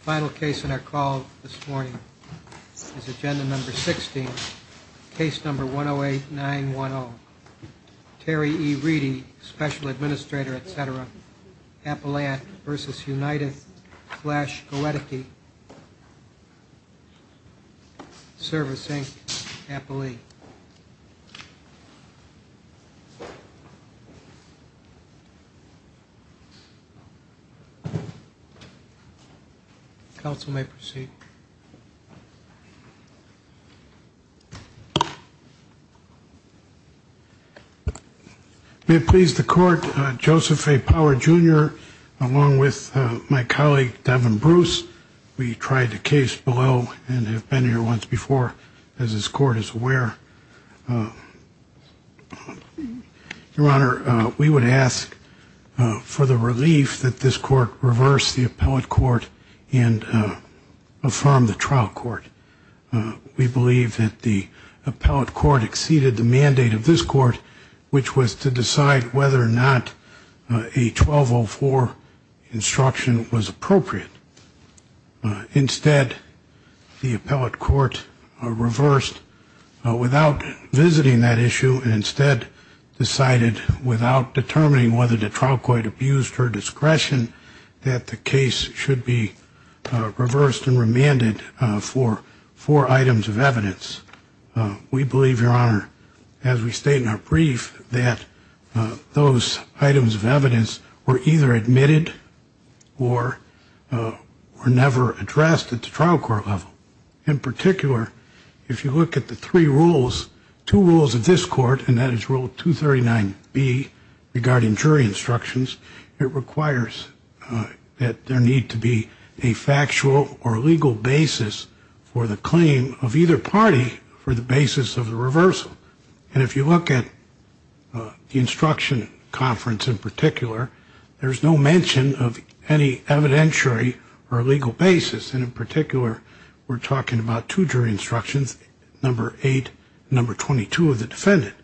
Final case in our call this morning is agenda number 16, case number 108-910. Terry E. Reedy, Special Administrator, etc. Appellant v. United Flash Goedecke Service Inc. Appellee Counsel may proceed. May it please the court, Joseph A. Power Jr. along with my colleague Devin Bruce, we tried the case below and have been here once before as this court is aware. Your Honor, we would ask for the relief that this court reverse the appellate court and affirm the trial court. We believe that the appellate court exceeded the mandate of this court, which was to decide whether or not a 1204 instruction was appropriate. Instead, the appellate court reversed without visiting that issue and instead decided without determining whether the trial court abused her discretion that the case should be reversed and remanded for four items of evidence. We believe, Your Honor, as we state in our brief, that those items of evidence were either admitted or were never addressed at the trial court level. In particular, if you look at the three rules, two rules of this court, and that is Rule 239B regarding jury instructions, it requires that there need to be a factual or legal basis for the claim of either party for the basis of the reversal. And if you look at the instruction conference in particular, there's no mention of any evidentiary or legal basis, and in particular, we're talking about two jury instructions, Number 8 and Number 22 of the defendant.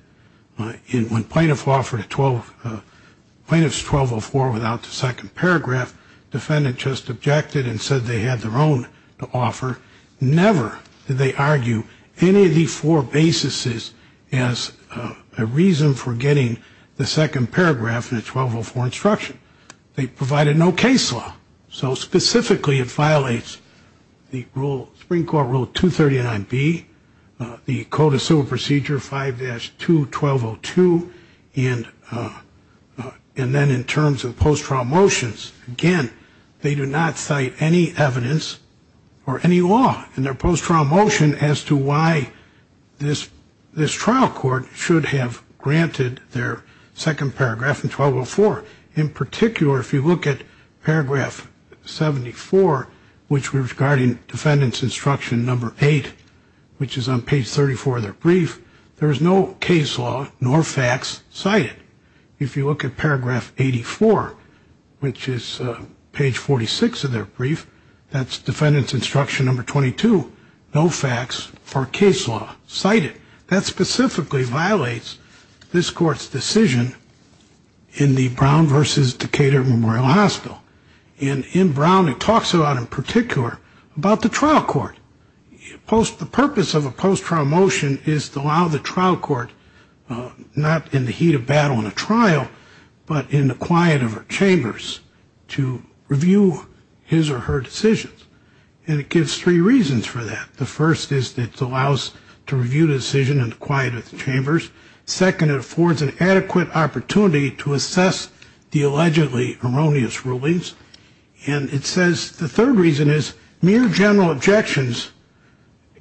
When plaintiff offered a 12, plaintiff's 1204 without the second paragraph, defendant just objected and said they had their own to offer. Never did they argue any of these four basis as a reason for getting the second paragraph in the 1204 instruction. They provided no case law, so specifically it violates the rule, Supreme Court Rule 239B, the Code of Civil Procedure 5-2-1202, and then in terms of post-trial motions, again, they do not cite any evidence or any law in their post-trial motion as to why this trial court should have granted their second paragraph in 1204. In particular, if you look at Paragraph 74, which we're regarding Defendant's Instruction Number 8, which is on Page 34 of their brief, there is no case law nor facts cited. If you look at Paragraph 84, which is Page 46 of their brief, that's Defendant's Instruction Number 22, no facts or case law cited. That specifically violates this court's decision in the Brown v. Decatur Memorial Hospital, and in Brown it talks a lot in particular about the trial court. The purpose of a post-trial motion is to allow the trial court, not in the heat of battle in a trial, but in the quiet of her chambers to review his or her decisions, and it gives three reasons for that. The first is that it allows to review the decision in the quiet of the chambers. Second, it affords an adequate opportunity to assess the allegedly erroneous rulings. And it says the third reason is mere general objections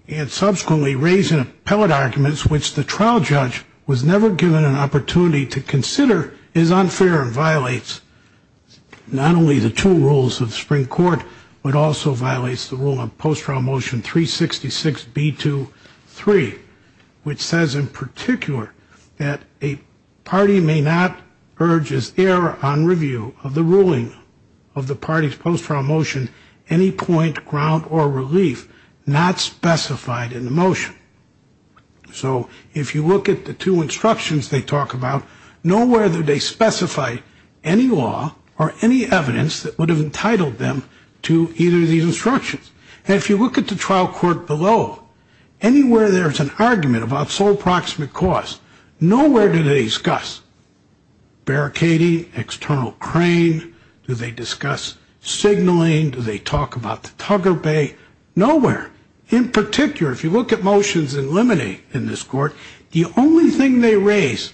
and subsequently raising appellate arguments, which the trial judge was never given an opportunity to consider, is unfair and violates not only the two rules of the Supreme Court, but also violates the rule of post-trial motion 366. B-2-3, which says in particular that a party may not urge as error on review of the ruling of the party's post-trial motion any point, ground, or relief not specified in the motion. So if you look at the two instructions they talk about, know whether they specify any law or any evidence that would have entitled them to either of these instructions. And if you look at the trial court below, anywhere there's an argument about sole proximate cause, nowhere do they discuss barricading, external crane, do they discuss signaling, do they talk about the tugger bay, nowhere. In particular, if you look at motions in limine in this court, the only thing they raise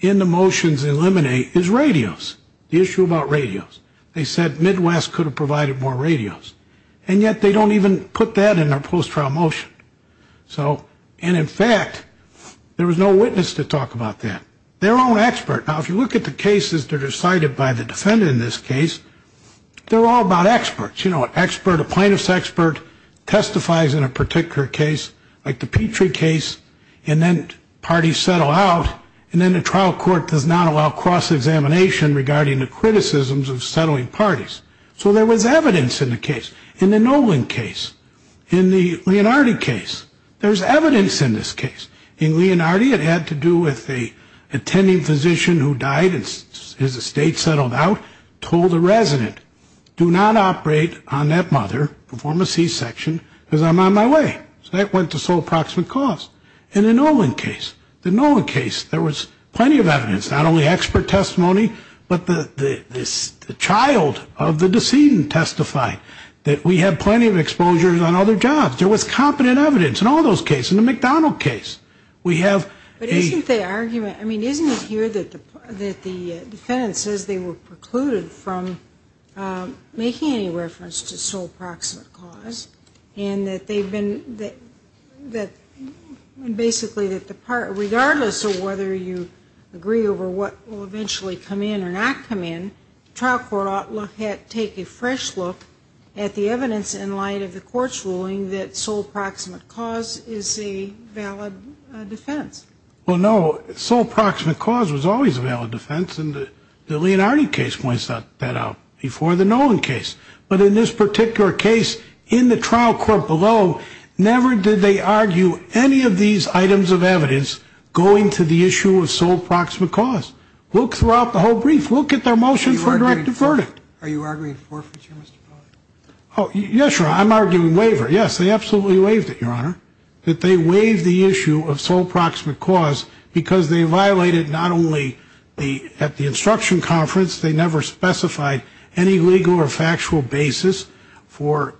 in the motions in limine is radios, the issue about radios. They said Midwest could have provided more radios, and yet they don't even put that in their post-trial motion. So, and in fact, there was no witness to talk about that. They're all expert. Now, if you look at the cases that are decided by the defendant in this case, they're all about experts. You know, an expert, a plaintiff's expert, testifies in a particular case, like the Petrie case, and then parties settle out, and then the trial court does not allow cross-examination regarding the criticisms of settling parties. So there was evidence in the case. In the Nolan case, in the Leonardi case, there's evidence in this case. In Leonardi, it had to do with an attending physician who died and his estate settled out, told a resident, do not operate on that mother, perform a C-section, because I'm on my way. So that went to sole proximate cause. In the Nolan case, the Nolan case, there was plenty of evidence, not only expert testimony, but the child of the decedent testified that we have plenty of exposures on other jobs. There was competent evidence in all those cases, in the McDonald case. We have a... But isn't the argument, I mean, isn't it here that the defendant says they were precluded from making any reference to sole proximate cause, and that they've been, that basically, regardless of whether you agree over what will eventually come in or not come in, the trial court ought to take a fresh look at the evidence in light of the court's ruling that the defendant is not a sole proximate cause. And that sole proximate cause is a valid defense. Well, no, sole proximate cause was always a valid defense, and the Leonardi case points that out, before the Nolan case. But in this particular case, in the trial court below, never did they argue any of these items of evidence going to the issue of sole proximate cause. Look throughout the whole brief. Look at their motion for a directive verdict. Are you arguing forfeiture, Mr. Pollack? Yes, Your Honor, I'm arguing waiver. Yes, they absolutely waived it, Your Honor, that they waived the issue of sole proximate cause because they violated not only at the instruction conference, they never specified any legal or factual basis for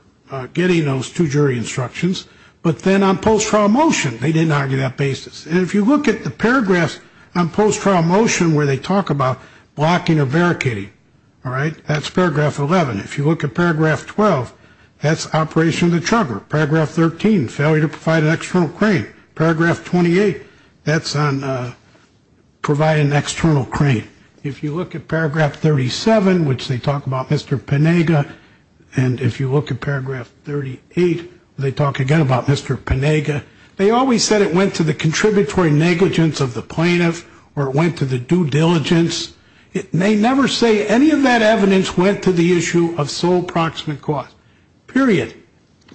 getting those two jury instructions, but then on post-trial motion. They didn't argue that basis. And if you look at the paragraphs on post-trial motion where they talk about blocking or barricading, all right, that's paragraph 11. If you look at paragraph 12, that's operation of the chugger. Paragraph 13, failure to provide an external crane. Paragraph 28, that's on providing an external crane. If you look at paragraph 37, which they talk about Mr. Penega, and if you look at paragraph 38, they talk again about Mr. Penega. They always said it went to the contributory negligence of the plaintiff or it went to the due diligence. They never say any of that evidence went to the issue of sole proximate cause, period.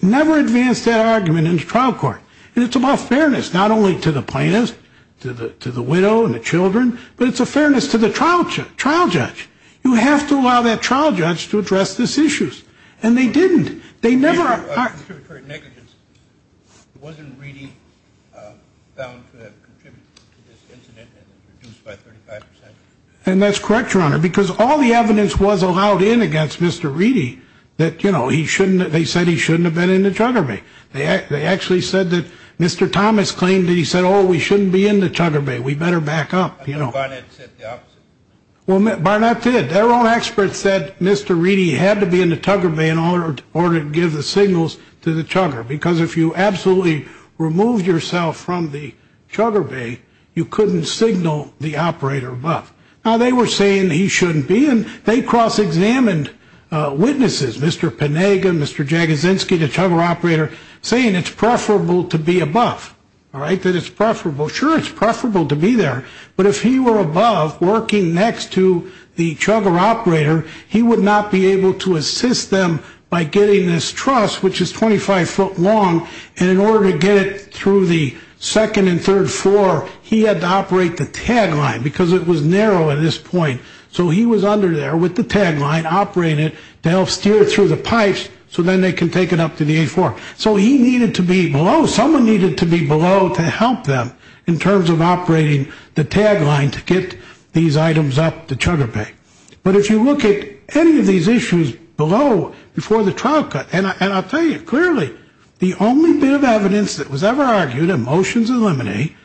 They never advance that argument in the trial court. And it's about fairness, not only to the plaintiff, to the widow and the children, but it's a fairness to the trial judge. You have to allow that trial judge to address these issues. And they didn't. They never are. And that's correct, Your Honor, because all the evidence was allowed in against Mr. Reedy that, you know, he shouldn't they said he shouldn't have been in the chugger bay. They actually said that Mr. Thomas claimed that he said, oh, we shouldn't be in the chugger bay. We better back up. You know, Barnett said the opposite. Well, Barnett did. Their own experts said Mr. Reedy had to be in the chugger bay in order to give the signals to the chugger. Because if you absolutely remove yourself from the chugger bay, you couldn't signal the operator. But now they were saying he shouldn't be. And they cross examined witnesses, Mr. Panaga, Mr. Jaginski, the chugger operator, saying it's preferable to be above. All right, that it's preferable. Sure, it's preferable to be there. But if he were above working next to the chugger operator, he would not be able to assist them by getting this truss, which is 25 foot long. And in order to get through the second and third floor, he had to operate the tag line because it was narrow at this point. So he was under there with the tag line, operating it to help steer it through the pipes so then they can take it up to the A4. So he needed to be below. Someone needed to be below to help them in terms of operating the tag line to get these items up the chugger bay. But if you look at any of these issues below before the trial cut, and I'll tell you clearly, the only bit of evidence that was ever argued in motions in limine,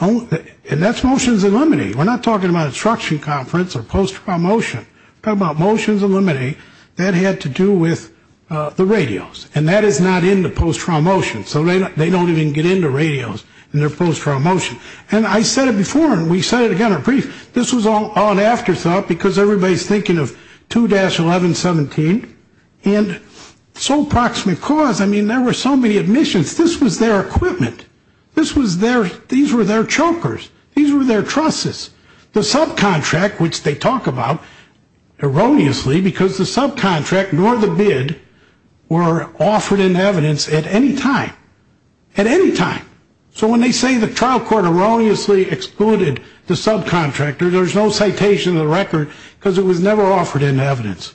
and that's motions in limine. We're not talking about instruction conference or post-trial motion. We're talking about motions in limine. That had to do with the radios, and that is not in the post-trial motion, so they don't even get into radios in their post-trial motion. And I said it before, and we said it again in brief, this was all an afterthought because everybody's thinking of 2-1117. And so proximate cause, I mean, there were so many admissions. This was their equipment. This was their, these were their chokers. These were their trusses. The subcontract, which they talk about erroneously because the subcontract nor the bid were offered in evidence at any time. At any time. So when they say the trial court erroneously excluded the subcontractor, there's no citation of the record because it was never offered in evidence.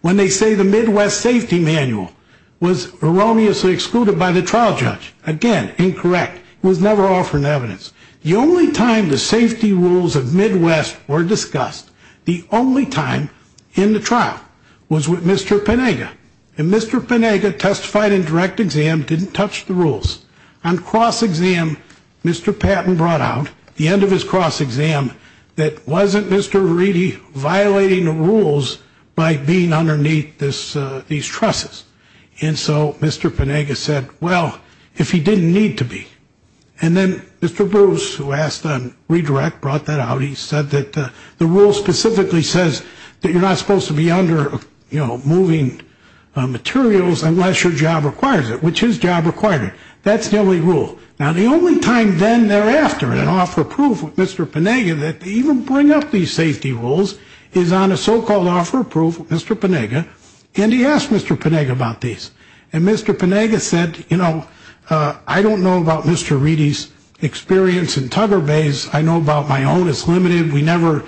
When they say the Midwest safety manual was erroneously excluded by the trial judge, again, incorrect. It was never offered in evidence. The only time the safety rules of Midwest were discussed, the only time in the trial was with Mr. Penega, and Mr. Penega testified in direct exam, didn't touch the rules. On cross-exam, Mr. Patton brought out, at the end of his cross-exam, that wasn't Mr. Veridi violating the rules by being underneath these trusses. And so Mr. Penega said, well, if he didn't need to be. And then Mr. Bruce, who asked on redirect, brought that out. He said that the rule specifically says that you're not supposed to be under moving materials unless your job requires it, which his job required it. That's the only rule. Now, the only time then thereafter in an offer of proof with Mr. Penega that they even bring up these safety rules is on a so-called offer of proof with Mr. Penega, and he asked Mr. Penega about these. And Mr. Penega said, you know, I don't know about Mr. Veridi's experience in tugger bays. I know about my own. It's limited. We never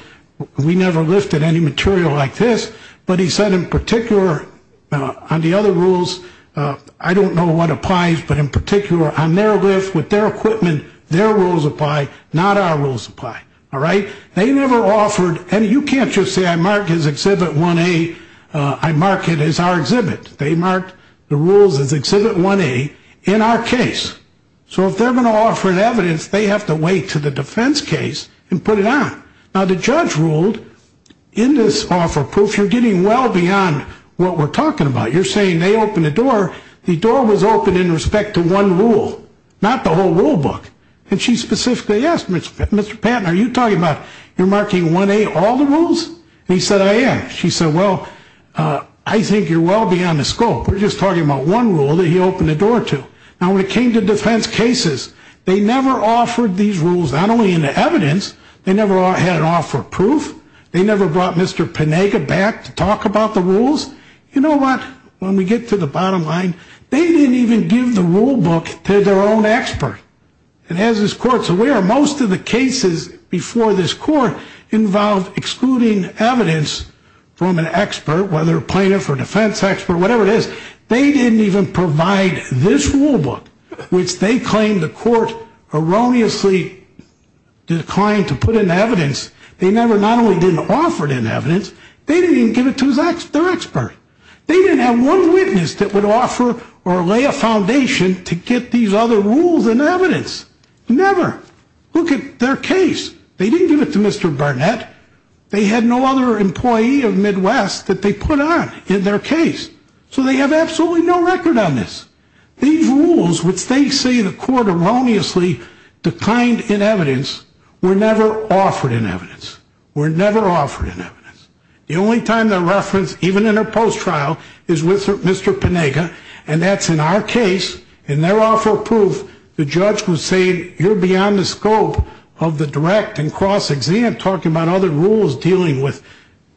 lifted any material like this. But he said in particular on the other rules, I don't know what applies, but in particular on their lift with their equipment, their rules apply, not our rules apply. All right. They never offered any. You can't just say I marked his Exhibit 1A, I marked it as our exhibit. They marked the rules as Exhibit 1A in our case. So if they're going to offer an evidence, they have to wait to the defense case and put it on. Now, the judge ruled in this offer of proof, you're getting well beyond what we're talking about. You're saying they open the door. The door was open in respect to one rule, not the whole rule book. And she specifically asked Mr. Patton, are you talking about you're marking 1A all the rules? He said, I am. She said, well, I think you're well beyond the scope. We're just talking about one rule that he opened the door to. Now, when it came to defense cases, they never offered these rules, not only in the evidence. They never had an offer of proof. They never brought Mr. Panega back to talk about the rules. You know what? When we get to the bottom line, they didn't even give the rule book to their own expert. And as this court's aware, most of the cases before this court involved excluding evidence from an expert, whether plaintiff or defense expert, whatever it is. They didn't even provide this rule book, which they claim the court erroneously declined to put in evidence. They never not only didn't offer it in evidence, they didn't even give it to their expert. They didn't have one witness that would offer or lay a foundation to get these other rules and evidence. Never. Look at their case. They didn't give it to Mr. Barnett. They had no other employee of Midwest that they put on in their case. So they have absolutely no record on this. These rules, which they say the court erroneously declined in evidence, were never offered in evidence. Were never offered in evidence. The only time they're referenced, even in a post-trial, is with Mr. Panega, and that's in our case. In their offer of proof, the judge would say you're beyond the scope of the direct and cross-exam talking about other rules dealing with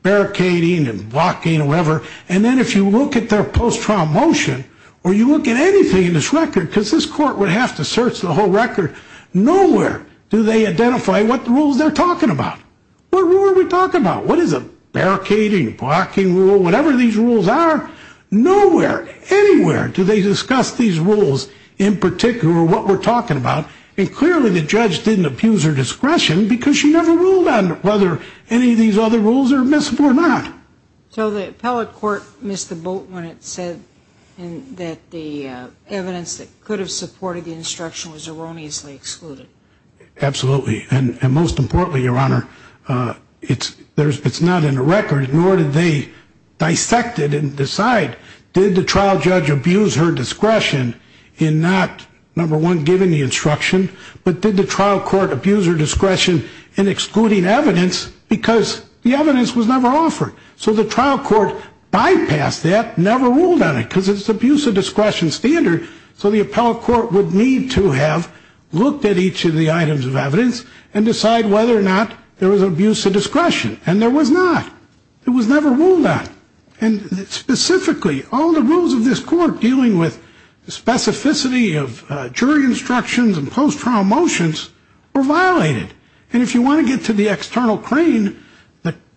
barricading and blocking or whatever. And then if you look at their post-trial motion, or you look at anything in this record, because this court would have to search the whole record, nowhere do they identify what rules they're talking about. What rule are we talking about? What is a barricading, blocking rule, whatever these rules are? Nowhere, anywhere do they discuss these rules in particular or what we're talking about. And clearly the judge didn't abuse her discretion because she never ruled on whether any of these other rules are admissible or not. So the appellate court missed the boat when it said that the evidence that could have supported the instruction was erroneously excluded. Absolutely. And most importantly, Your Honor, it's not in the record, nor did they dissect it and decide did the trial judge abuse her discretion in not, number one, giving the instruction, but did the trial court abuse her discretion in excluding evidence because the evidence was never offered. So the trial court bypassed that, never ruled on it, because it's abuse of discretion standard. So the appellate court would need to have looked at each of the items of evidence and decide whether or not there was abuse of discretion. And there was not. It was never ruled on. And specifically, all the rules of this court dealing with the specificity of jury instructions and post-trial motions were violated. And if you want to get to the external crane,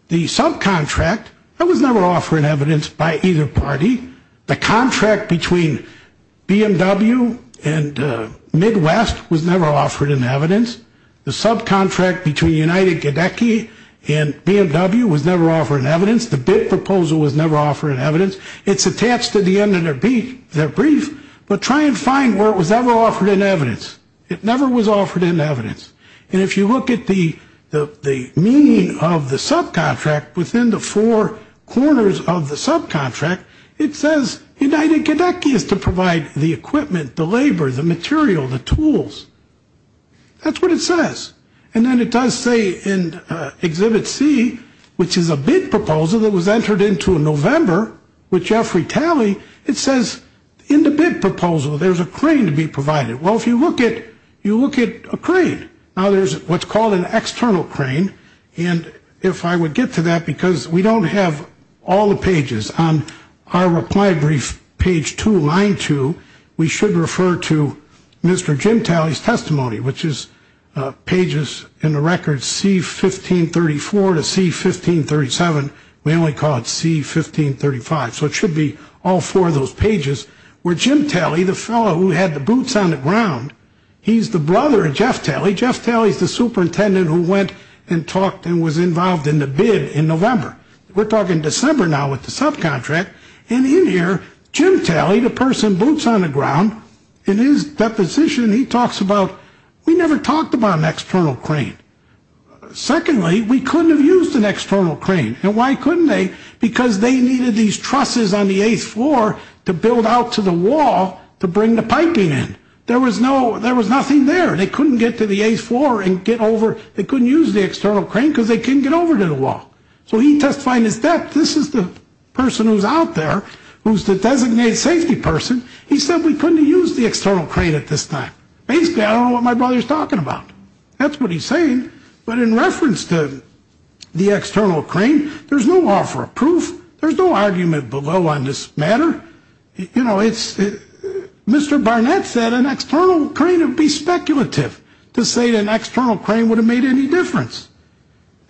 the subcontract, that was never offered in evidence by either party. The contract between BMW and Midwest was never offered in evidence. The subcontract between United Gedecky and BMW was never offered in evidence. The bid proposal was never offered in evidence. It's attached to the end of their brief. But try and find where it was ever offered in evidence. It never was offered in evidence. And if you look at the meaning of the subcontract within the four corners of the subcontract, it says United Gedecky is to provide the equipment, the labor, the material, the tools. That's what it says. And then it does say in Exhibit C, which is a bid proposal that was entered into in November with Jeffrey Talley, it says in the bid proposal there's a crane to be provided. Well, if you look at a crane, now there's what's called an external crane. And if I would get to that, because we don't have all the pages on our reply brief, page two, line two, we should refer to Mr. Jim Talley's testimony, which is pages in the record C-1534 to C-1537. We only call it C-1535. So it should be all four of those pages where Jim Talley, the fellow who had the boots on the ground, he's the brother of Jeff Talley. Jeff Talley's the superintendent who went and talked and was involved in the bid in November. We're talking December now with the subcontract. And in here, Jim Talley, the person boots on the ground, in his deposition he talks about we never talked about an external crane. Secondly, we couldn't have used an external crane. And why couldn't they? Because they needed these trusses on the eighth floor to build out to the wall to bring the piping in. There was nothing there. They couldn't get to the eighth floor and get over. They couldn't use the external crane because they couldn't get over to the wall. So he testified in his death. This is the person who's out there who's the designated safety person. He said we couldn't have used the external crane at this time. Basically, I don't know what my brother's talking about. That's what he's saying. But in reference to the external crane, there's no law for a proof. There's no argument below on this matter. You know, Mr. Barnett said an external crane would be speculative to say an external crane would have made any difference.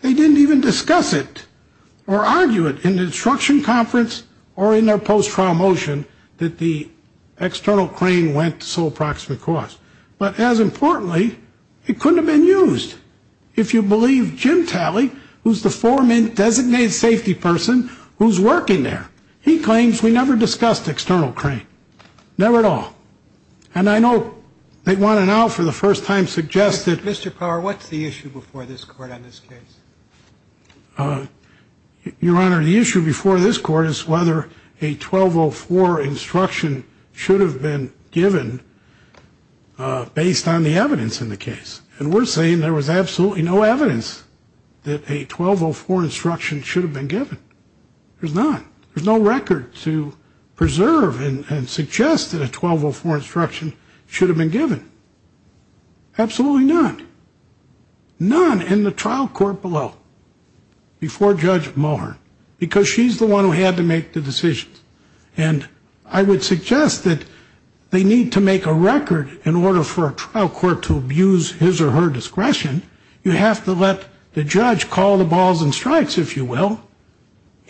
They didn't even discuss it or argue it in the instruction conference or in their post-trial motion that the external crane went to sole proximate cause. But as importantly, it couldn't have been used. If you believe Jim Talley, who's the foreman designated safety person who's working there, he claims we never discussed external crane. Never at all. And I know they want to now for the first time suggest that. Mr. Power, what's the issue before this court on this case? Your Honor, the issue before this court is whether a 1204 instruction should have been given based on the evidence in the case. And we're saying there was absolutely no evidence that a 1204 instruction should have been given. There's not. There's no record to preserve and suggest that a 1204 instruction should have been given. Absolutely not. None in the trial court below before Judge Mohr because she's the one who had to make the decision. And I would suggest that they need to make a record in order for a trial court to abuse his or her discretion. You have to let the judge call the balls and strikes, if you will.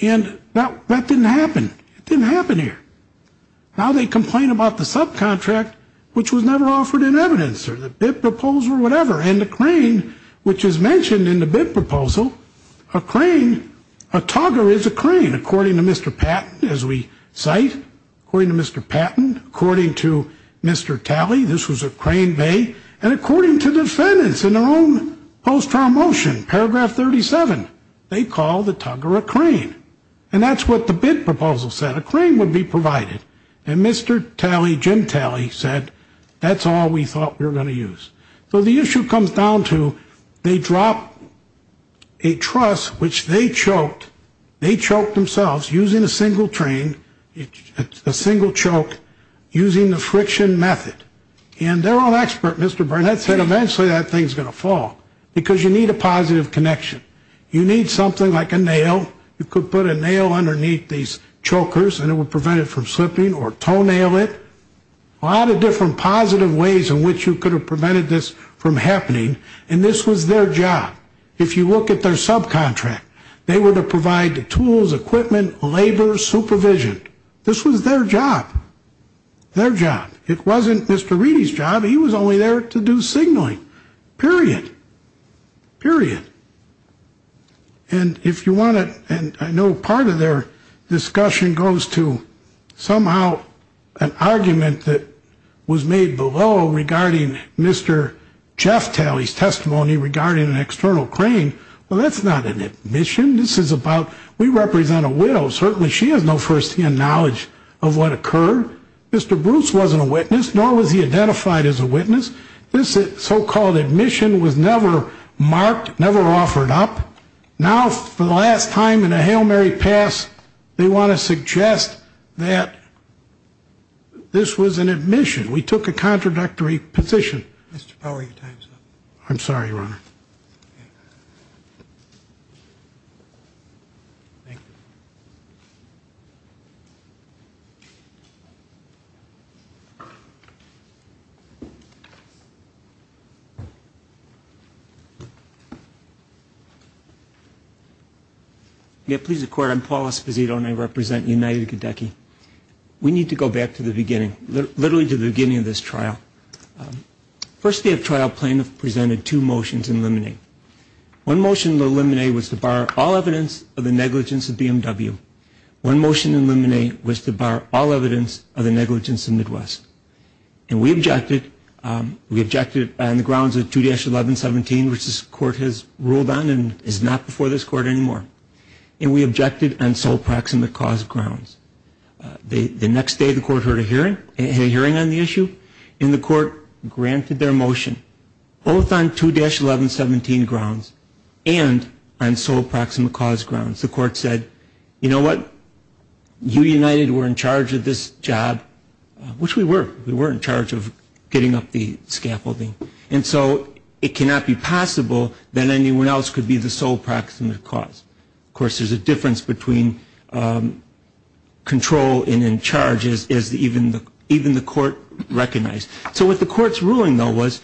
And that didn't happen. It didn't happen here. Now they complain about the subcontract, which was never offered in evidence or the proposal or whatever. And the crane, which is mentioned in the bid proposal, a crane, a tugger is a crane. According to Mr. Patton, as we cite, according to Mr. Patton, according to Mr. Talley, this was a crane bay. And according to defendants in their own post-trial motion, paragraph 37, they call the tugger a crane. And that's what the bid proposal said. A crane would be provided. And Mr. Talley, Jim Talley, said that's all we thought we were going to use. So the issue comes down to they drop a truss, which they choked. They choked themselves using a single train, a single choke, using the friction method. And their own expert, Mr. Burnett, said eventually that thing's going to fall because you need a positive connection. You need something like a nail. You could put a nail underneath these chokers and it would prevent it from slipping or toenail it. A lot of different positive ways in which you could have prevented this from happening. And this was their job. If you look at their subcontract, they were to provide the tools, equipment, labor, supervision. This was their job. Their job. It wasn't Mr. Reedy's job. He was only there to do signaling, period, period. And if you want to, and I know part of their discussion goes to somehow an argument that was made below regarding Mr. Jeff Talley's testimony regarding an external crane. Well, that's not an admission. This is about we represent a widow. Certainly she has no first-hand knowledge of what occurred. Mr. Bruce wasn't a witness, nor was he identified as a witness. This so-called admission was never marked, never offered up. Now for the last time in a Hail Mary pass, they want to suggest that this was an admission. We took a contradictory position. Mr. Powell, your time's up. I'm sorry, Your Honor. Thank you. Please record I'm Paul Esposito, and I represent United of Kentucky. We need to go back to the beginning, literally to the beginning of this trial. First day of trial, plaintiff presented two motions in limine. One motion in limine was to bar all evidence of the negligence of BMW. One motion in limine was to bar all evidence of the negligence of Midwest. And we objected. We objected on the grounds of 2-1117, which this court has ruled on and is not before this court anymore. And we objected on sole praximate cause grounds. The next day the court heard a hearing on the issue, and the court granted their motion, both on 2-1117 grounds and on sole praximate cause grounds. The court said, you know what? You, United, were in charge of this job, which we were. We were in charge of getting up the scaffolding. And so it cannot be possible that anyone else could be the sole praximate cause. Of course, there's a difference between control and in charge, as even the court recognized. So what the court's ruling, though, was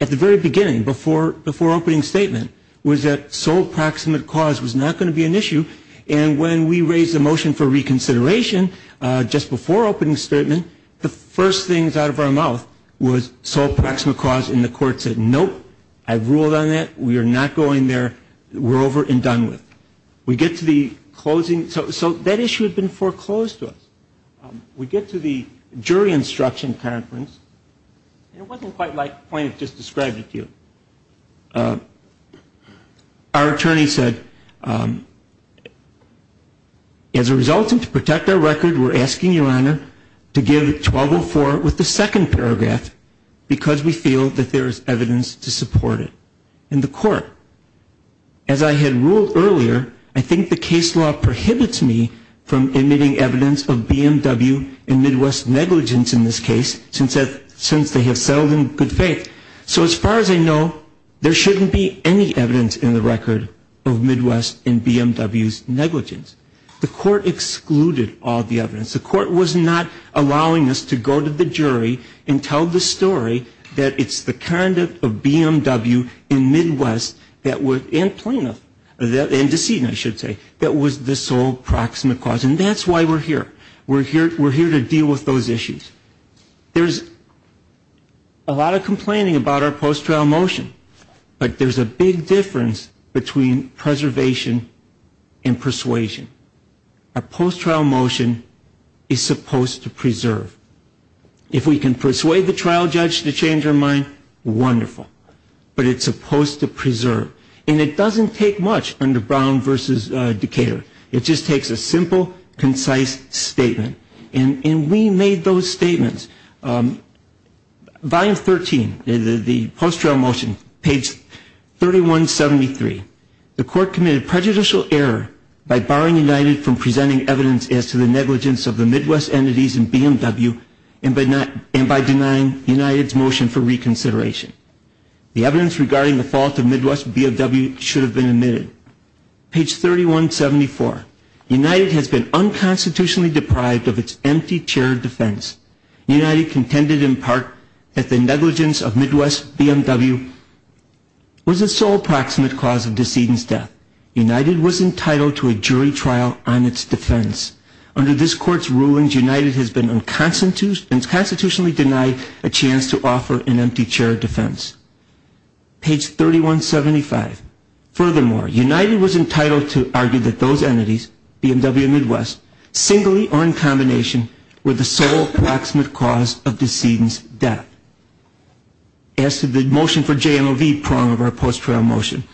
at the very beginning, before opening statement, was that sole praximate cause was not going to be an issue. And when we raised the motion for reconsideration just before opening statement, the first things out of our mouth was sole praximate cause, and the court said, nope, I've ruled on that. We are not going there. We're over and done with. We get to the closing. So that issue had been foreclosed to us. We get to the jury instruction conference, and it wasn't quite like the point I just described to you. Our attorney said, as a result to protect our record, we're asking your honor to give 1204 with the second paragraph because we feel that there is evidence to support it. And the court, as I had ruled earlier, I think the case law prohibits me from emitting evidence of BMW and Midwest negligence in this case since they have settled in good faith. So as far as I know, there shouldn't be any evidence in the record of Midwest and BMW's negligence. The court excluded all the evidence. The court was not allowing us to go to the jury and tell the story that it's the conduct of BMW in Midwest that would, and plaintiff, and decedent, I should say, that was the sole praximate cause. And that's why we're here. We're here to deal with those issues. There's a lot of complaining about our post-trial motion, but there's a big difference between preservation and persuasion. Our post-trial motion is supposed to preserve. If we can persuade the trial judge to change her mind, wonderful. But it's supposed to preserve. And it doesn't take much under Brown v. Decatur. It just takes a simple, concise statement. And we made those statements. Volume 13, the post-trial motion, page 3173. The court committed prejudicial error by barring United from presenting evidence as to the negligence of the Midwest entities in BMW and by denying United's motion for reconsideration. The evidence regarding the fault of Midwest and BMW should have been admitted. Page 3174. United has been unconstitutionally deprived of its empty chair of defense. United contended in part that the negligence of Midwest BMW was the sole praximate cause of decedent's death. United was entitled to a jury trial on its defense. Under this court's rulings, United has been unconstitutionally denied a chance to offer an empty chair of defense. Page 3175. Furthermore, United was entitled to argue that those entities, BMW and Midwest, singly or in combination, were the sole praximate cause of decedent's death. As to the motion for JMOV prong of our post-trial motion,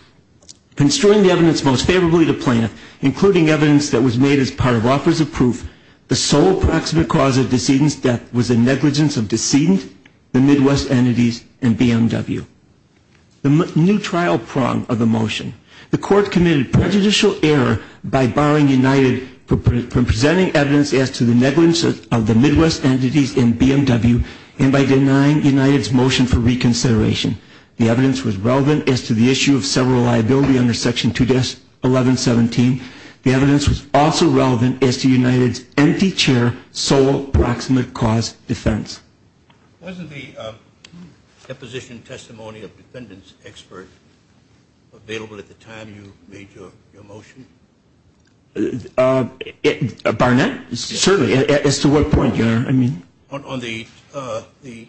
construing the evidence most favorably to plaintiff, including evidence that was made as part of offers of proof, the sole praximate cause of decedent's death was the negligence of decedent, the Midwest entities, and BMW. The new trial prong of the motion, the court committed prejudicial error by barring United from presenting evidence as to the negligence of the Midwest entities and BMW, and by denying United's motion for reconsideration. The evidence was relevant as to the issue of several liability under Section 21117. The evidence was also relevant as to United's empty chair sole praximate cause defense. Wasn't the deposition testimony of defendants expert available at the time you made your motion? Barnett? Certainly. As to what point, your honor? On the tugger,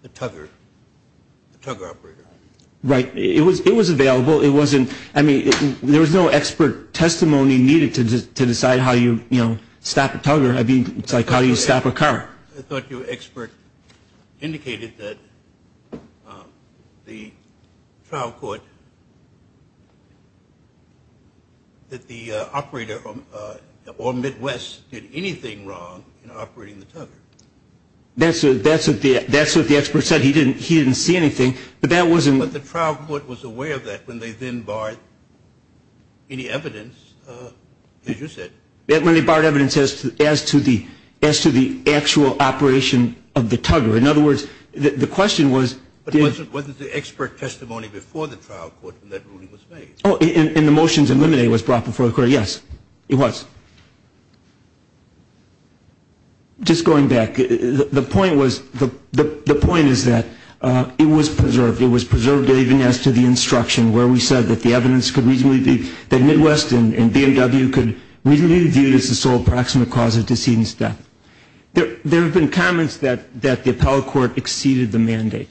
the tugger operator. Right. It was available. It wasn't, I mean, there was no expert testimony needed to decide how you, you know, stop a tugger. I mean, it's like how you stop a car. I thought your expert indicated that the trial court, that the operator or Midwest did anything wrong in operating the tugger. That's what the expert said. He didn't see anything, but that wasn't. But the trial court was aware of that when they then barred any evidence, as you said. When they barred evidence as to the actual operation of the tugger. In other words, the question was. But it wasn't the expert testimony before the trial court when that ruling was made. Oh, and the motions eliminated was brought before the court, yes. It was. Just going back, the point was, the point is that it was preserved. It was preserved even as to the instruction where we said that the evidence could reasonably be, that Midwest and BMW could reasonably be viewed as the sole proximate cause of decedent's death. There have been comments that the appellate court exceeded the mandate.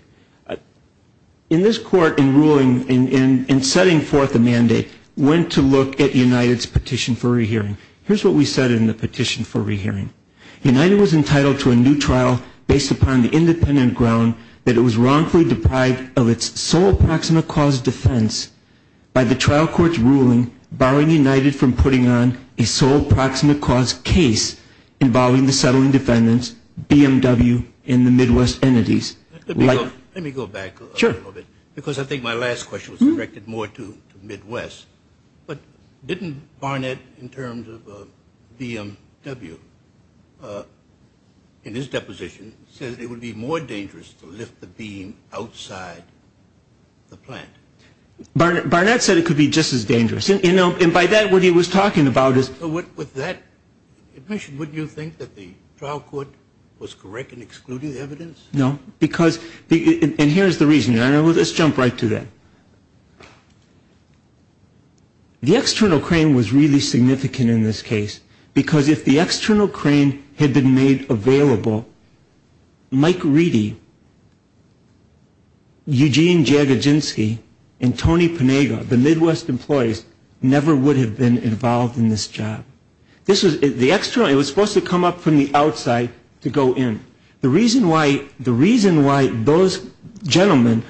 In this court, in ruling, in setting forth a mandate, went to look at United's petition for rehearing. Here's what we said in the petition for rehearing. United was entitled to a new trial based upon the independent ground that it was wrongfully deprived of its sole proximate cause defense by the trial court's ruling barring United from putting on a sole proximate cause case involving the settling defendants, BMW, and the Midwest entities. Let me go back a little bit. Sure. Because I think my last question was directed more to Midwest. But didn't Barnett, in terms of BMW, in his deposition, says it would be more dangerous to lift the beam outside the plant? Barnett said it could be just as dangerous. And by that, what he was talking about is – With that admission, wouldn't you think that the trial court was correct in excluding the evidence? No. And here's the reason. Let's jump right to that. The external crane was really significant in this case because if the external crane had been made available, Mike Reedy, Eugene Jagadzinski, and Tony Panega, the Midwest employees, never would have been involved in this job. The external – it was supposed to come up from the outside to go in. The reason why those gentlemen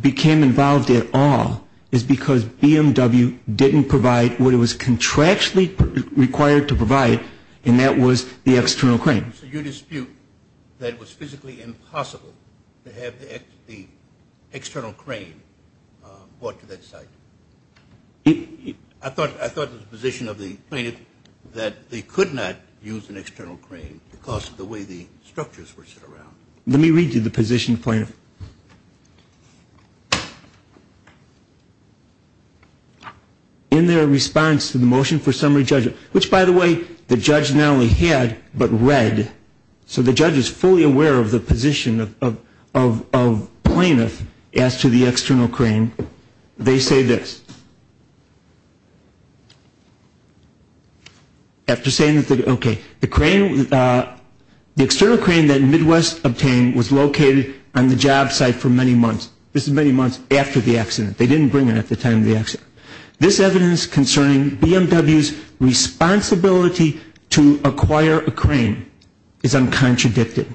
became involved at all is because BMW didn't provide what it was contractually required to provide. And that was the external crane. So you dispute that it was physically impossible to have the external crane brought to that site? I thought the position of the plaintiff that they could not use an external crane because of the way the structures were set around. In their response to the motion for summary judgment – which, by the way, the judge not only had, but read. So the judge is fully aware of the position of plaintiff as to the external crane. They say this. After saying that – okay. The crane – the external crane that Midwest obtained was located on the job site for many months. This is many months after the accident. They didn't bring it at the time of the accident. This evidence concerning BMW's responsibility to acquire a crane is uncontradicted.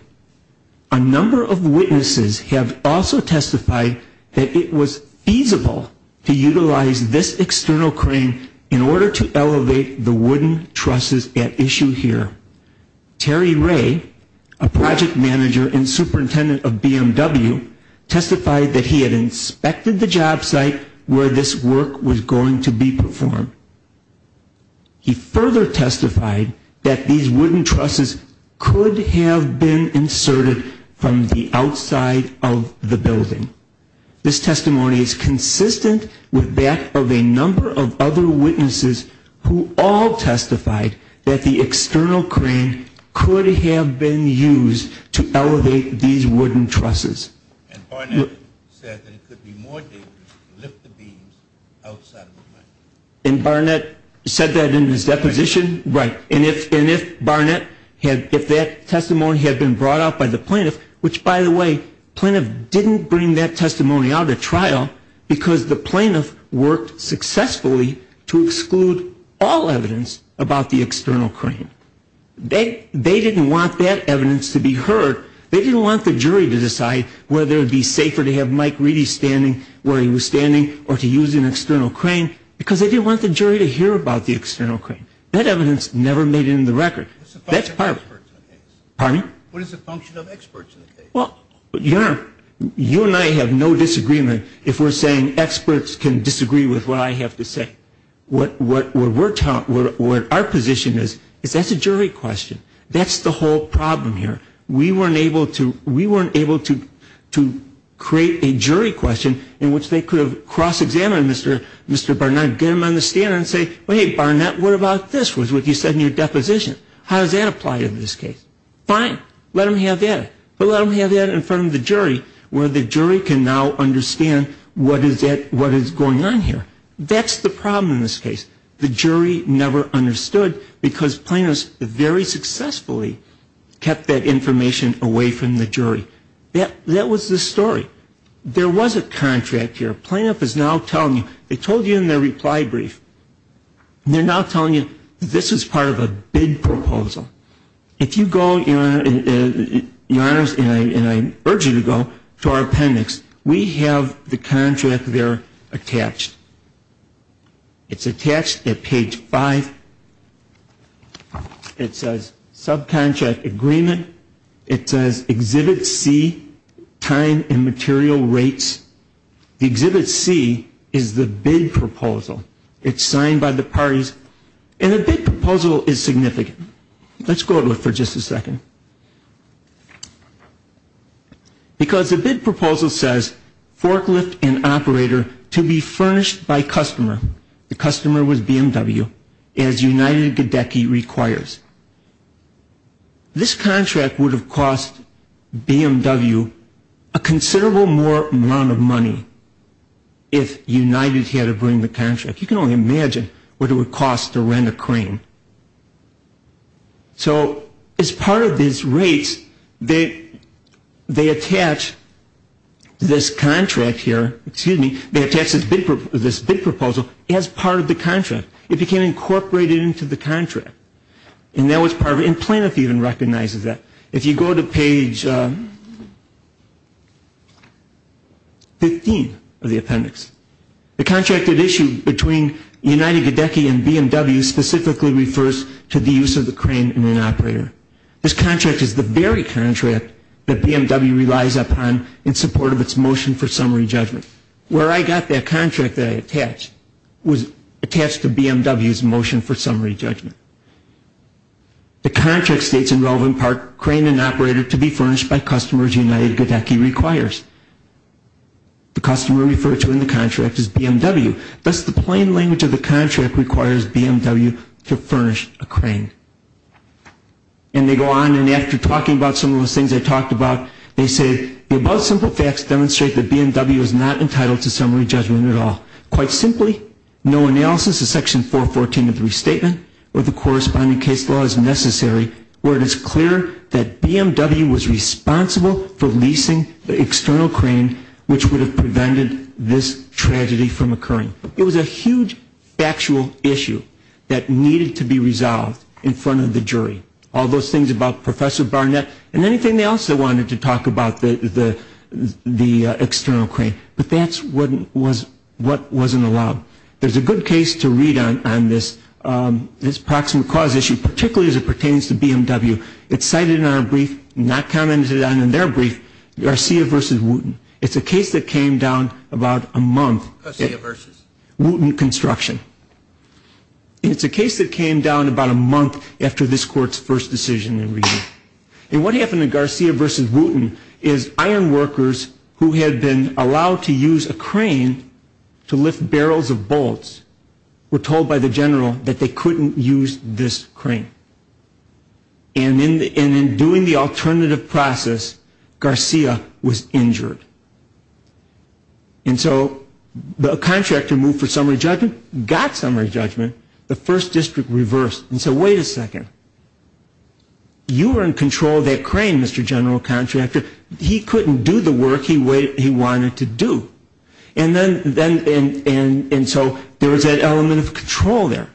A number of witnesses have also testified that it was feasible to utilize this external crane in order to elevate the wooden trusses at issue here. Terry Ray, a project manager and superintendent of BMW, testified that he had inspected the job site where this work was going to be performed. He further testified that these wooden trusses could have been inserted from the outside of the building. This testimony is consistent with that of a number of other witnesses who all testified that the external crane could have been used to elevate these wooden trusses. And Barnett said that it could be more dangerous to lift the beams outside of the building. And Barnett said that in his deposition? Right. And if Barnett – if that testimony had been brought out by the plaintiff – which, by the way, the plaintiff didn't bring that testimony out at trial because the plaintiff worked successfully to exclude all evidence about the external crane. They didn't want that evidence to be heard. They didn't want the jury to decide whether it would be safer to have Mike Reedy standing where he was standing or to use an external crane because they didn't want the jury to hear about the external crane. That evidence never made it into the record. That's part of it. What is the function of experts in the case? Pardon? What is the function of experts in the case? Well, you and I have no disagreement if we're saying experts can disagree with what I have to say. What our position is is that's a jury question. That's the whole problem here. We weren't able to create a jury question in which they could have cross-examined Mr. Barnett, get him on the stand and say, well, hey, Barnett, what about this was what you said in your deposition? How does that apply in this case? Fine. Let him have that. But let him have that in front of the jury where the jury can now understand what is going on here. That's the problem in this case. The jury never understood because plaintiffs very successfully kept that information away from the jury. That was the story. There was a contract here. Plaintiff is now telling you. They told you in their reply brief. They're now telling you this is part of a bid proposal. If you go, Your Honors, and I urge you to go to our appendix, we have the contract there attached. It's attached at page 5. It says subcontract agreement. It says Exhibit C, time and material rates. The Exhibit C is the bid proposal. It's signed by the parties. And a bid proposal is significant. Let's go to it for just a second. Because a bid proposal says forklift and operator to be furnished by customer. The customer was BMW, as United Gedecky requires. This contract would have cost BMW a considerable more amount of money if United had to bring the contract. You can only imagine what it would cost to rent a crane. So as part of these rates, they attach this contract here, excuse me, they attach this bid proposal as part of the contract. It became incorporated into the contract. And that was part of it. And Planeth even recognizes that. If you go to page 15 of the appendix, the contracted issue between United Gedecky and BMW specifically refers to the use of the crane in an operator. This contract is the very contract that BMW relies upon in support of its motion for summary judgment. Where I got that contract that I attached was attached to BMW's motion for summary judgment. The contract states in relevant part crane and operator to be furnished by customers United Gedecky requires. The customer referred to in the contract is BMW. Thus the plain language of the contract requires BMW to furnish a crane. And they go on and after talking about some of those things I talked about, they say the above simple facts demonstrate that BMW is not entitled to summary judgment at all. Quite simply, no analysis of section 414 of the restatement or the corresponding case law is necessary where it is clear that BMW was responsible for leasing the external crane which would have prevented this tragedy from occurring. It was a huge factual issue that needed to be resolved in front of the jury. All those things about Professor Barnett and anything else they wanted to talk about the external crane. But that's what wasn't allowed. There's a good case to read on this proximate cause issue, particularly as it pertains to BMW. It's cited in our brief, not commented on in their brief, Garcia v. Wooten. It's a case that came down about a month. Garcia v. Wooten Construction. It's a case that came down about a month after this court's first decision. And what happened in Garcia v. Wooten is iron workers who had been allowed to use a crane to lift barrels of bolts were told by the general that they couldn't use this crane. And in doing the alternative process, Garcia was injured. And so the contractor moved for summary judgment, got summary judgment. The first district reversed and said, wait a second. You are in control of that crane, Mr. General Contractor. He couldn't do the work he wanted to do. And so there was that element of control there.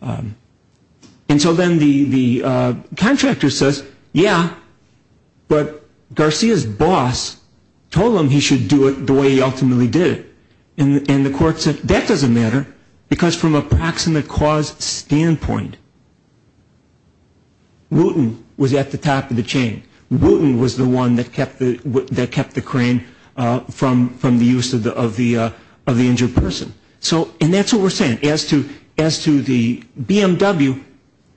And so then the contractor says, yeah, but Garcia's boss told him he should do it the way he ultimately did it. And the court said, that doesn't matter because from a proximate cause standpoint, Wooten was at the top of the chain. Wooten was the one that kept the crane from the use of the injured person. And that's what we're saying. As to the BMW,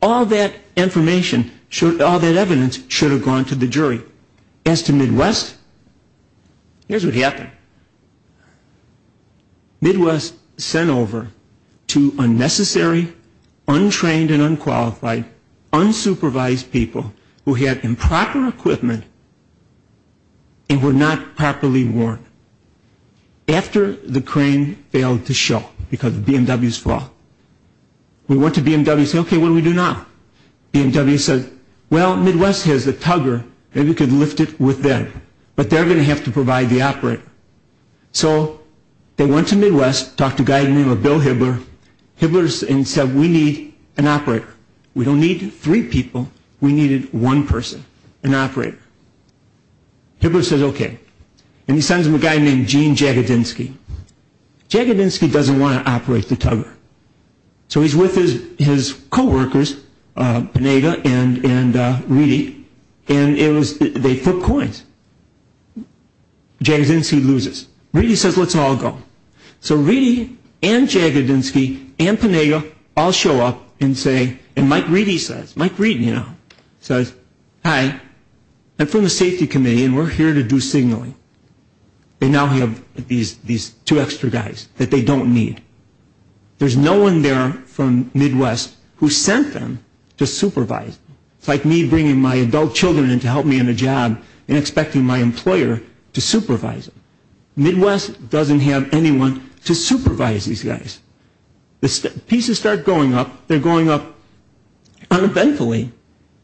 all that information, all that evidence should have gone to the jury. As to Midwest, here's what happened. Midwest sent over to unnecessary, untrained and unqualified, unsupervised people who had improper equipment and were not properly After the crane failed to show because of BMW's fault, we went to BMW and said, okay, what do we do now? BMW said, well, Midwest has a tugger. Maybe we could lift it with them. But they're going to have to provide the operator. So they went to Midwest, talked to a guy named Bill Hibbler. Hibbler said, we need an operator. We don't need three people. We needed one person, an operator. Hibbler said, okay. And he sends him a guy named Gene Jagadinsky. Jagadinsky doesn't want to operate the tugger. So he's with his co-workers, Pineda and Reedy, and they flip coins. Jagadinsky loses. Reedy says, let's all go. So Reedy and Jagadinsky and Pineda all show up and say, and Mike Reedy says, Mike Reedy now, says, hi, I'm from the safety committee and we're here to do signaling. And now we have these two extra guys that they don't need. There's no one there from Midwest who sent them to supervise. It's like me bringing my adult children in to help me in a job and expecting my employer to supervise them. Midwest doesn't have anyone to supervise these guys. The pieces start going up. They're going up uneventfully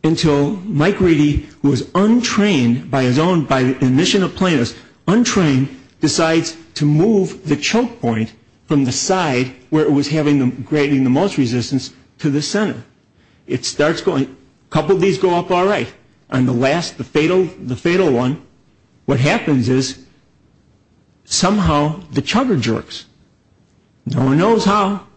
until Mike Reedy, who was untrained by his own admission of plainness, untrained, decides to move the choke point from the side where it was having the most resistance to the center. It starts going, a couple of these go up all right. And the last, the fatal one, what happens is somehow the chugger jerks. No one knows how.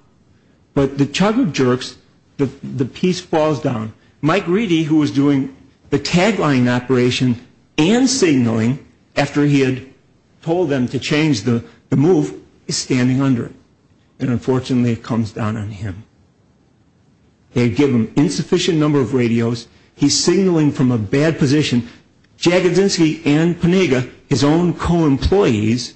But the chugger jerks, the piece falls down. Mike Reedy, who was doing the tagline operation and signaling after he had told them to change the move, is standing under it. And unfortunately it comes down on him. They give him insufficient number of radios. He's signaling from a bad position. Jagadzinski and Panega, his own co-employees,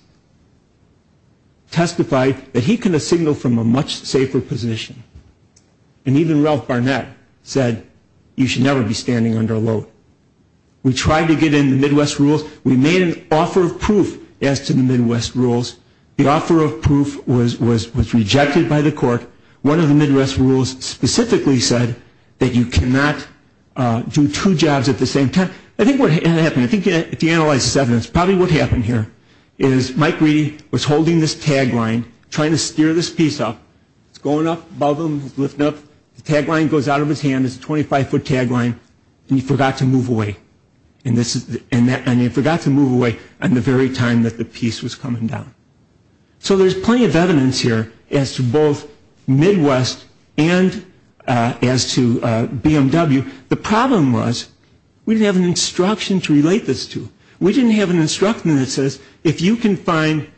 testified that he could have signaled from a much safer position. And even Ralph Barnett said you should never be standing under a load. We tried to get in the Midwest rules. We made an offer of proof as to the Midwest rules. But one of the Midwest rules specifically said that you cannot do two jobs at the same time. I think what happened, if you analyze this evidence, probably what happened here is Mike Reedy was holding this tagline, trying to steer this piece up. It's going up above him, lifting up. The tagline goes out of his hand. It's a 25-foot tagline. And he forgot to move away. And he forgot to move away at the very time that the piece was coming down. So there's plenty of evidence here as to both Midwest and as to BMW. The problem was we didn't have an instruction to relate this to. We didn't have an instruction that says if you can find,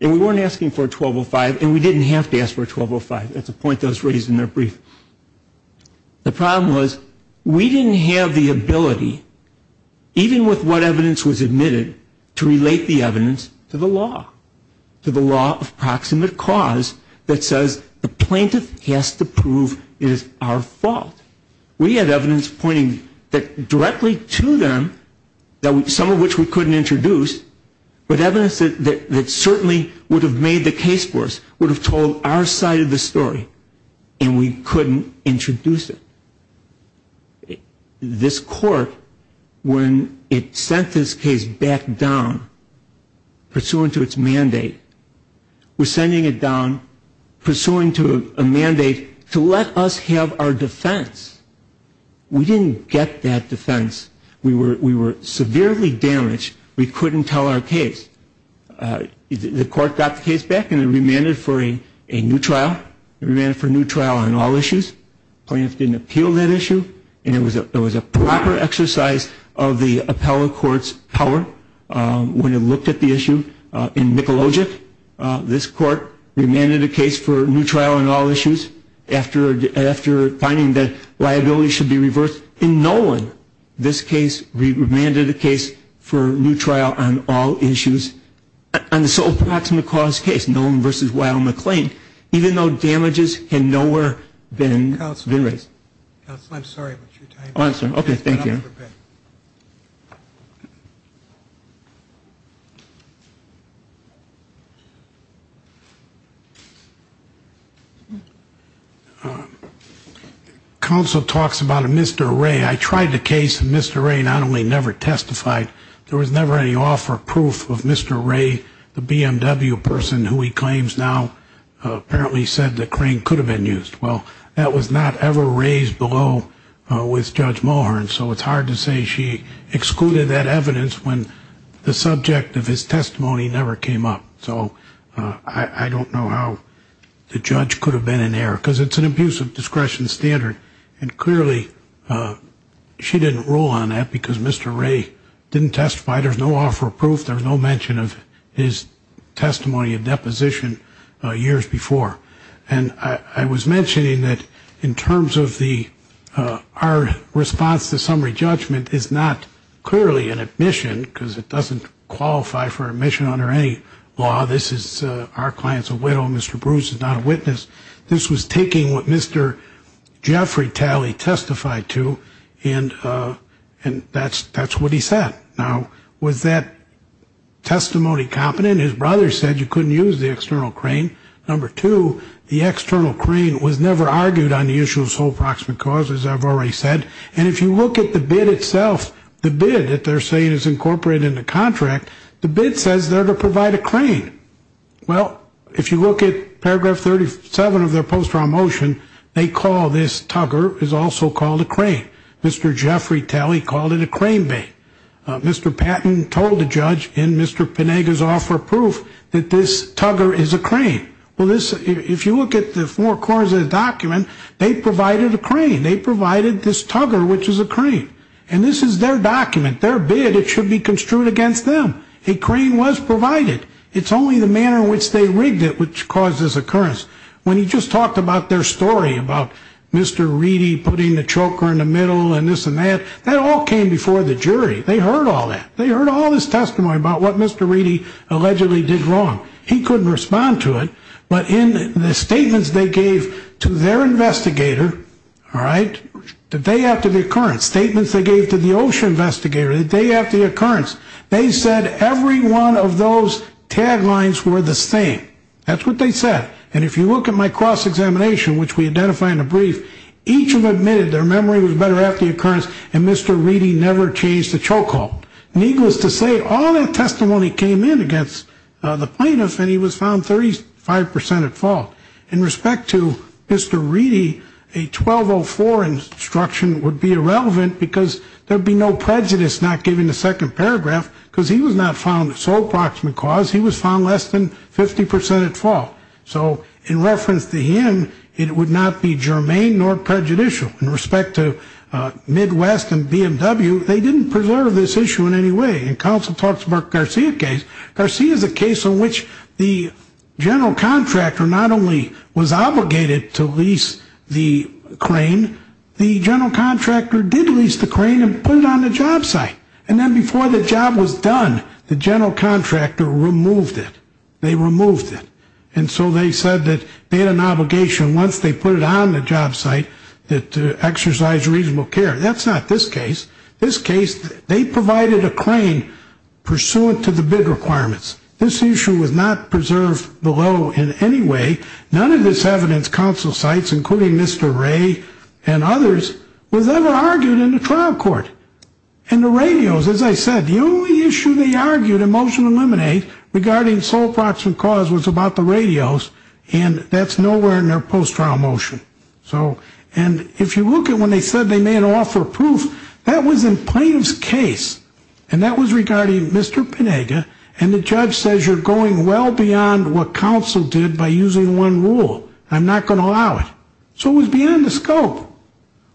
and we weren't asking for a 1205, and we didn't have to ask for a 1205. That's a point that was raised in their brief. The problem was we didn't have the ability, even with what evidence was admitted, to relate the evidence to the law, to the law of proximate cause that says the plaintiff has to prove it is our fault. We had evidence pointing directly to them, some of which we couldn't introduce, but evidence that certainly would have made the case for us, would have told our side of the story. And we couldn't introduce it. This court, when it sent this case back down pursuant to its mandate, was sending it down pursuant to a mandate to let us have our defense. We didn't get that defense. We were severely damaged. We couldn't tell our case. The court got the case back and it remanded for a new trial. It remanded for a new trial on all issues. The plaintiff didn't appeal that issue, and it was a proper exercise of the appellate court's power. When it looked at the issue in Mikulogic, this court remanded a case for a new trial on all issues. After finding that liability should be reversed in Nolan, this case remanded a case for a new trial on all issues on the sole proximate cause case, Nolan v. Weill McLean, even though damages had nowhere been raised. Counsel, I'm sorry about your time. Oh, I'm sorry. Okay, thank you. Counsel talks about a missed array. I tried the case, and Mr. Ray not only never testified, there was never any offer of proof of Mr. Ray, the BMW person who he claims now apparently said the crane could have been used. Well, that was not ever raised below with Judge Mulhern, so it's hard to say she excluded that evidence when the subject of his testimony never came up. So I don't know how the judge could have been in error, because it's an abuse of discretion standard. And clearly she didn't rule on that because Mr. Ray didn't testify. There's no offer of proof. There was no mention of his testimony and deposition years before. And I was mentioning that in terms of our response to summary judgment is not clearly an admission, because it doesn't qualify for admission under any law. This is our client's a widow. Mr. Bruce is not a witness. This was taking what Mr. Jeffrey Talley testified to, and that's what he said. Now, was that testimony competent? His brother said you couldn't use the external crane. Number two, the external crane was never argued on the issue of sole proximate cause, as I've already said. And if you look at the bid itself, the bid that they're saying is incorporated in the contract, the bid says they're to provide a crane. Well, if you look at paragraph 37 of their post-trial motion, they call this tugger is also called a crane. Mr. Jeffrey Talley called it a crane bay. Mr. Patton told the judge in Mr. Pinega's offer of proof that this tugger is a crane. Well, if you look at the four corners of the document, they provided a crane. They provided this tugger, which is a crane. And this is their document, their bid. It should be construed against them. A crane was provided. It's only the manner in which they rigged it which caused this occurrence. When you just talked about their story about Mr. Reedy putting the choker in the middle and this and that, that all came before the jury. They heard all that. They heard all this testimony about what Mr. Reedy allegedly did wrong. He couldn't respond to it. But in the statements they gave to their investigator, all right, the day after the occurrence, statements they gave to the OSHA investigator the day after the occurrence, they said every one of those taglines were the same. That's what they said. And if you look at my cross-examination, which we identify in the brief, each of them admitted their memory was better after the occurrence, and Mr. Reedy never changed the choke hold. Needless to say, all that testimony came in against the plaintiff, and he was found 35 percent at fault. In respect to Mr. Reedy, a 1204 instruction would be irrelevant because there would be no prejudice not giving the second paragraph, because he was not found at sole proximate cause. He was found less than 50 percent at fault. So in reference to him, it would not be germane nor prejudicial. In respect to Midwest and BMW, they didn't preserve this issue in any way. And counsel talks about Garcia case. Garcia is a case on which the general contractor not only was obligated to lease the crane, the general contractor did lease the crane and put it on the job site. And then before the job was done, the general contractor removed it. They removed it. And so they said that they had an obligation once they put it on the job site to exercise reasonable care. That's not this case. This case, they provided a crane pursuant to the bid requirements. This issue was not preserved below in any way. None of this evidence counsel cites, including Mr. Ray and others, was ever argued in the trial court. And the radios, as I said, the only issue they argued in motion to eliminate regarding sole proximate cause was about the radios, and that's nowhere in their post-trial motion. And if you look at when they said they may not offer proof, that was in plaintiff's case, and that was regarding Mr. Pinega, and the judge says you're going well beyond what counsel did by using one rule. I'm not going to allow it. So it was beyond the scope.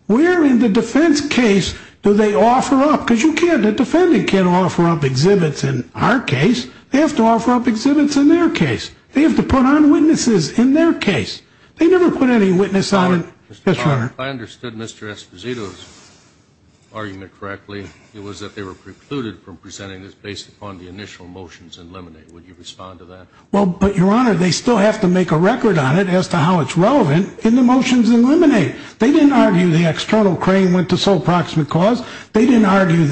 Where in the defense case do they offer up? Because you can't, the defendant can't offer up exhibits in our case. They have to offer up exhibits in their case. They have to put on witnesses in their case. They never put any witness on it. Yes, Your Honor. If I understood Mr. Esposito's argument correctly, it was that they were precluded from presenting this based upon the initial motions in Lemonade. Would you respond to that? Well, but, Your Honor, they still have to make a record on it as to how it's relevant in the motions in Lemonade. They didn't argue the external crane went to sole proximate cause. They didn't argue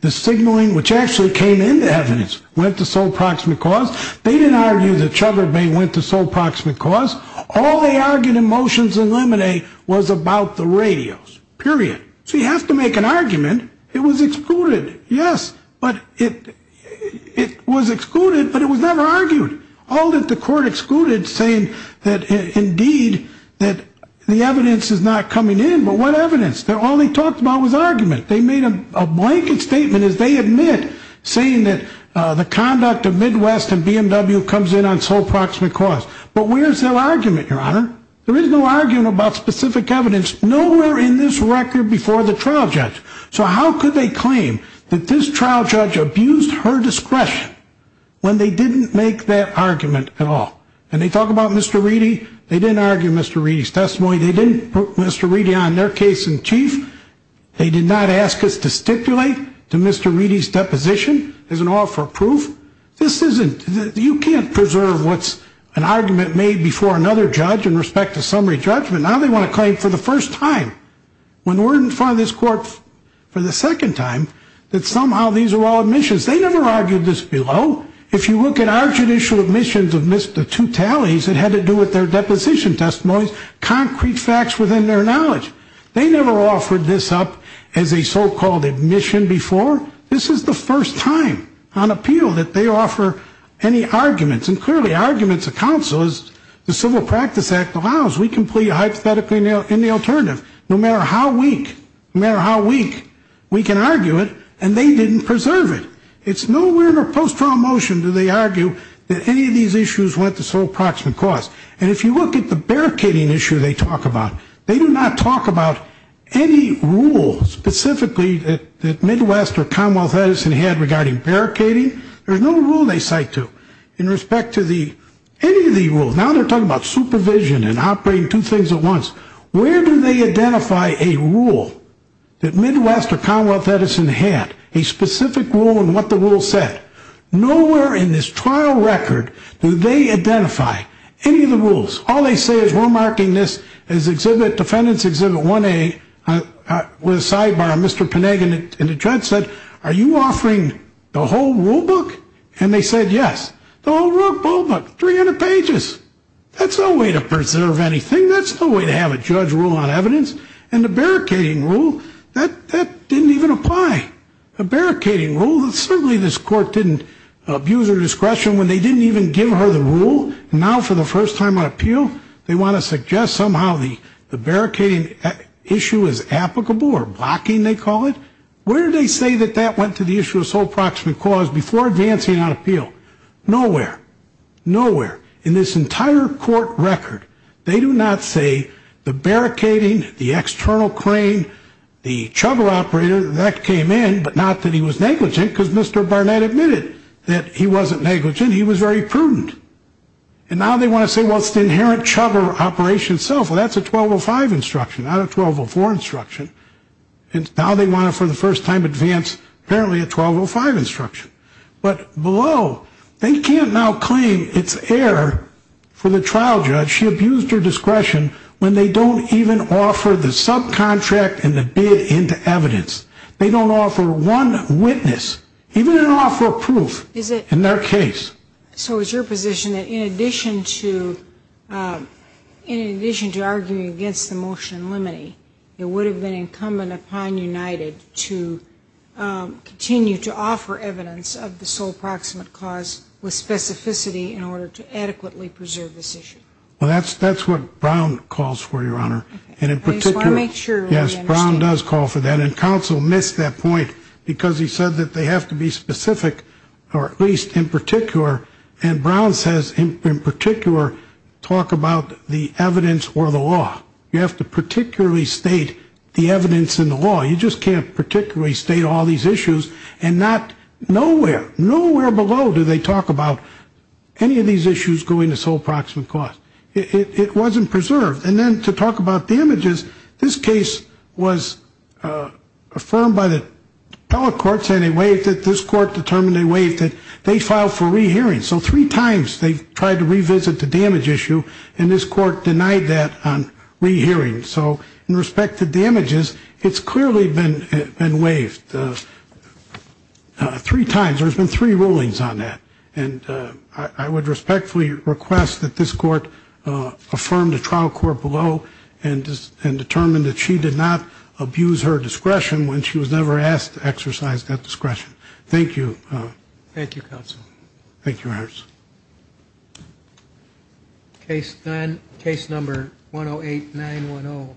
the signaling, which actually came into evidence, went to sole proximate cause. They didn't argue that Chubber Bay went to sole proximate cause. All they argued in motions in Lemonade was about the radios, period. So you have to make an argument. It was excluded. Yes, but it was excluded, but it was never argued. All that the court excluded saying that indeed that the evidence is not coming in, but what evidence? All they talked about was argument. They made a blanket statement as they admit saying that the conduct of Midwest and BMW comes in on sole proximate cause. But where's their argument, Your Honor? There is no argument about specific evidence. Nowhere in this record before the trial judge. So how could they claim that this trial judge abused her discretion when they didn't make that argument at all? And they talk about Mr. Reedy. They didn't argue Mr. Reedy's testimony. They didn't put Mr. Reedy on their case in chief. They did not ask us to stipulate to Mr. Reedy's deposition as an offer of proof. This isn't, you can't preserve what's an argument made before another judge in respect to summary judgment. Now they want to claim for the first time, when we're in front of this court for the second time, that somehow these are all admissions. They never argued this below. If you look at our judicial admissions of Mr. Tutali's, it had to do with their deposition testimonies, concrete facts within their knowledge. They never offered this up as a so-called admission before. This is the first time on appeal that they offer any arguments. And clearly arguments of counsel, as the Civil Practice Act allows, we can plead hypothetically in the alternative. No matter how weak, no matter how weak, we can argue it, and they didn't preserve it. It's nowhere in our post-trial motion do they argue that any of these issues went to sole proximate cause. And if you look at the barricading issue they talk about, they do not talk about any rule specifically that Midwest or Commonwealth Edison had regarding barricading. There's no rule they cite to in respect to any of the rules. Now they're talking about supervision and operating two things at once. Where do they identify a rule that Midwest or Commonwealth Edison had, a specific rule and what the rule said? Nowhere in this trial record do they identify any of the rules. All they say is we're marking this as Exhibit, Defendant's Exhibit 1A, with a sidebar, Mr. Penegan. And the judge said, are you offering the whole rule book? And they said, yes, the whole rule book, 300 pages. That's no way to preserve anything. That's no way to have a judge rule on evidence. And the barricading rule, that didn't even apply. The barricading rule, certainly this court didn't abuse her discretion when they didn't even give her the rule. And now for the first time on appeal, they want to suggest somehow the barricading issue is applicable or blocking, they call it. Where do they say that that went to the issue of sole proximate cause before advancing on appeal? Nowhere. Nowhere. In this entire court record, they do not say the barricading, the external crane, the chugger operator, that came in, but not that he was negligent because Mr. Barnett admitted that he wasn't negligent. He was very prudent. And now they want to say, well, it's the inherent chugger operation itself. Well, that's a 1205 instruction, not a 1204 instruction. And now they want to, for the first time, advance apparently a 1205 instruction. But below, they can't now claim it's error for the trial judge. She abused her discretion when they don't even offer the subcontract and the bid into evidence. They don't offer one witness, even an offer of proof in their case. So is your position that in addition to arguing against the motion limiting, it would have been incumbent upon United to continue to offer evidence of the sole proximate cause with specificity in order to adequately preserve this issue? Well, that's what Brown calls for, Your Honor. I just want to make sure. Yes, Brown does call for that. And counsel missed that point because he said that they have to be specific, or at least in particular, and Brown says in particular talk about the evidence or the law. You have to particularly state the evidence in the law. You just can't particularly state all these issues and not nowhere, nowhere below do they talk about any of these issues going to sole proximate cause. It wasn't preserved. And then to talk about damages, this case was affirmed by the appellate court saying they waived it. This court determined they waived it. They filed for rehearing. So three times they tried to revisit the damage issue, and this court denied that on rehearing. So in respect to damages, it's clearly been waived three times. There's been three rulings on that. And I would respectfully request that this court affirm the trial court below and determine that she did not abuse her discretion when she was never asked to exercise that discretion. Thank you. Thank you, counsel. Thank you, Your Honor. Case number 108-910.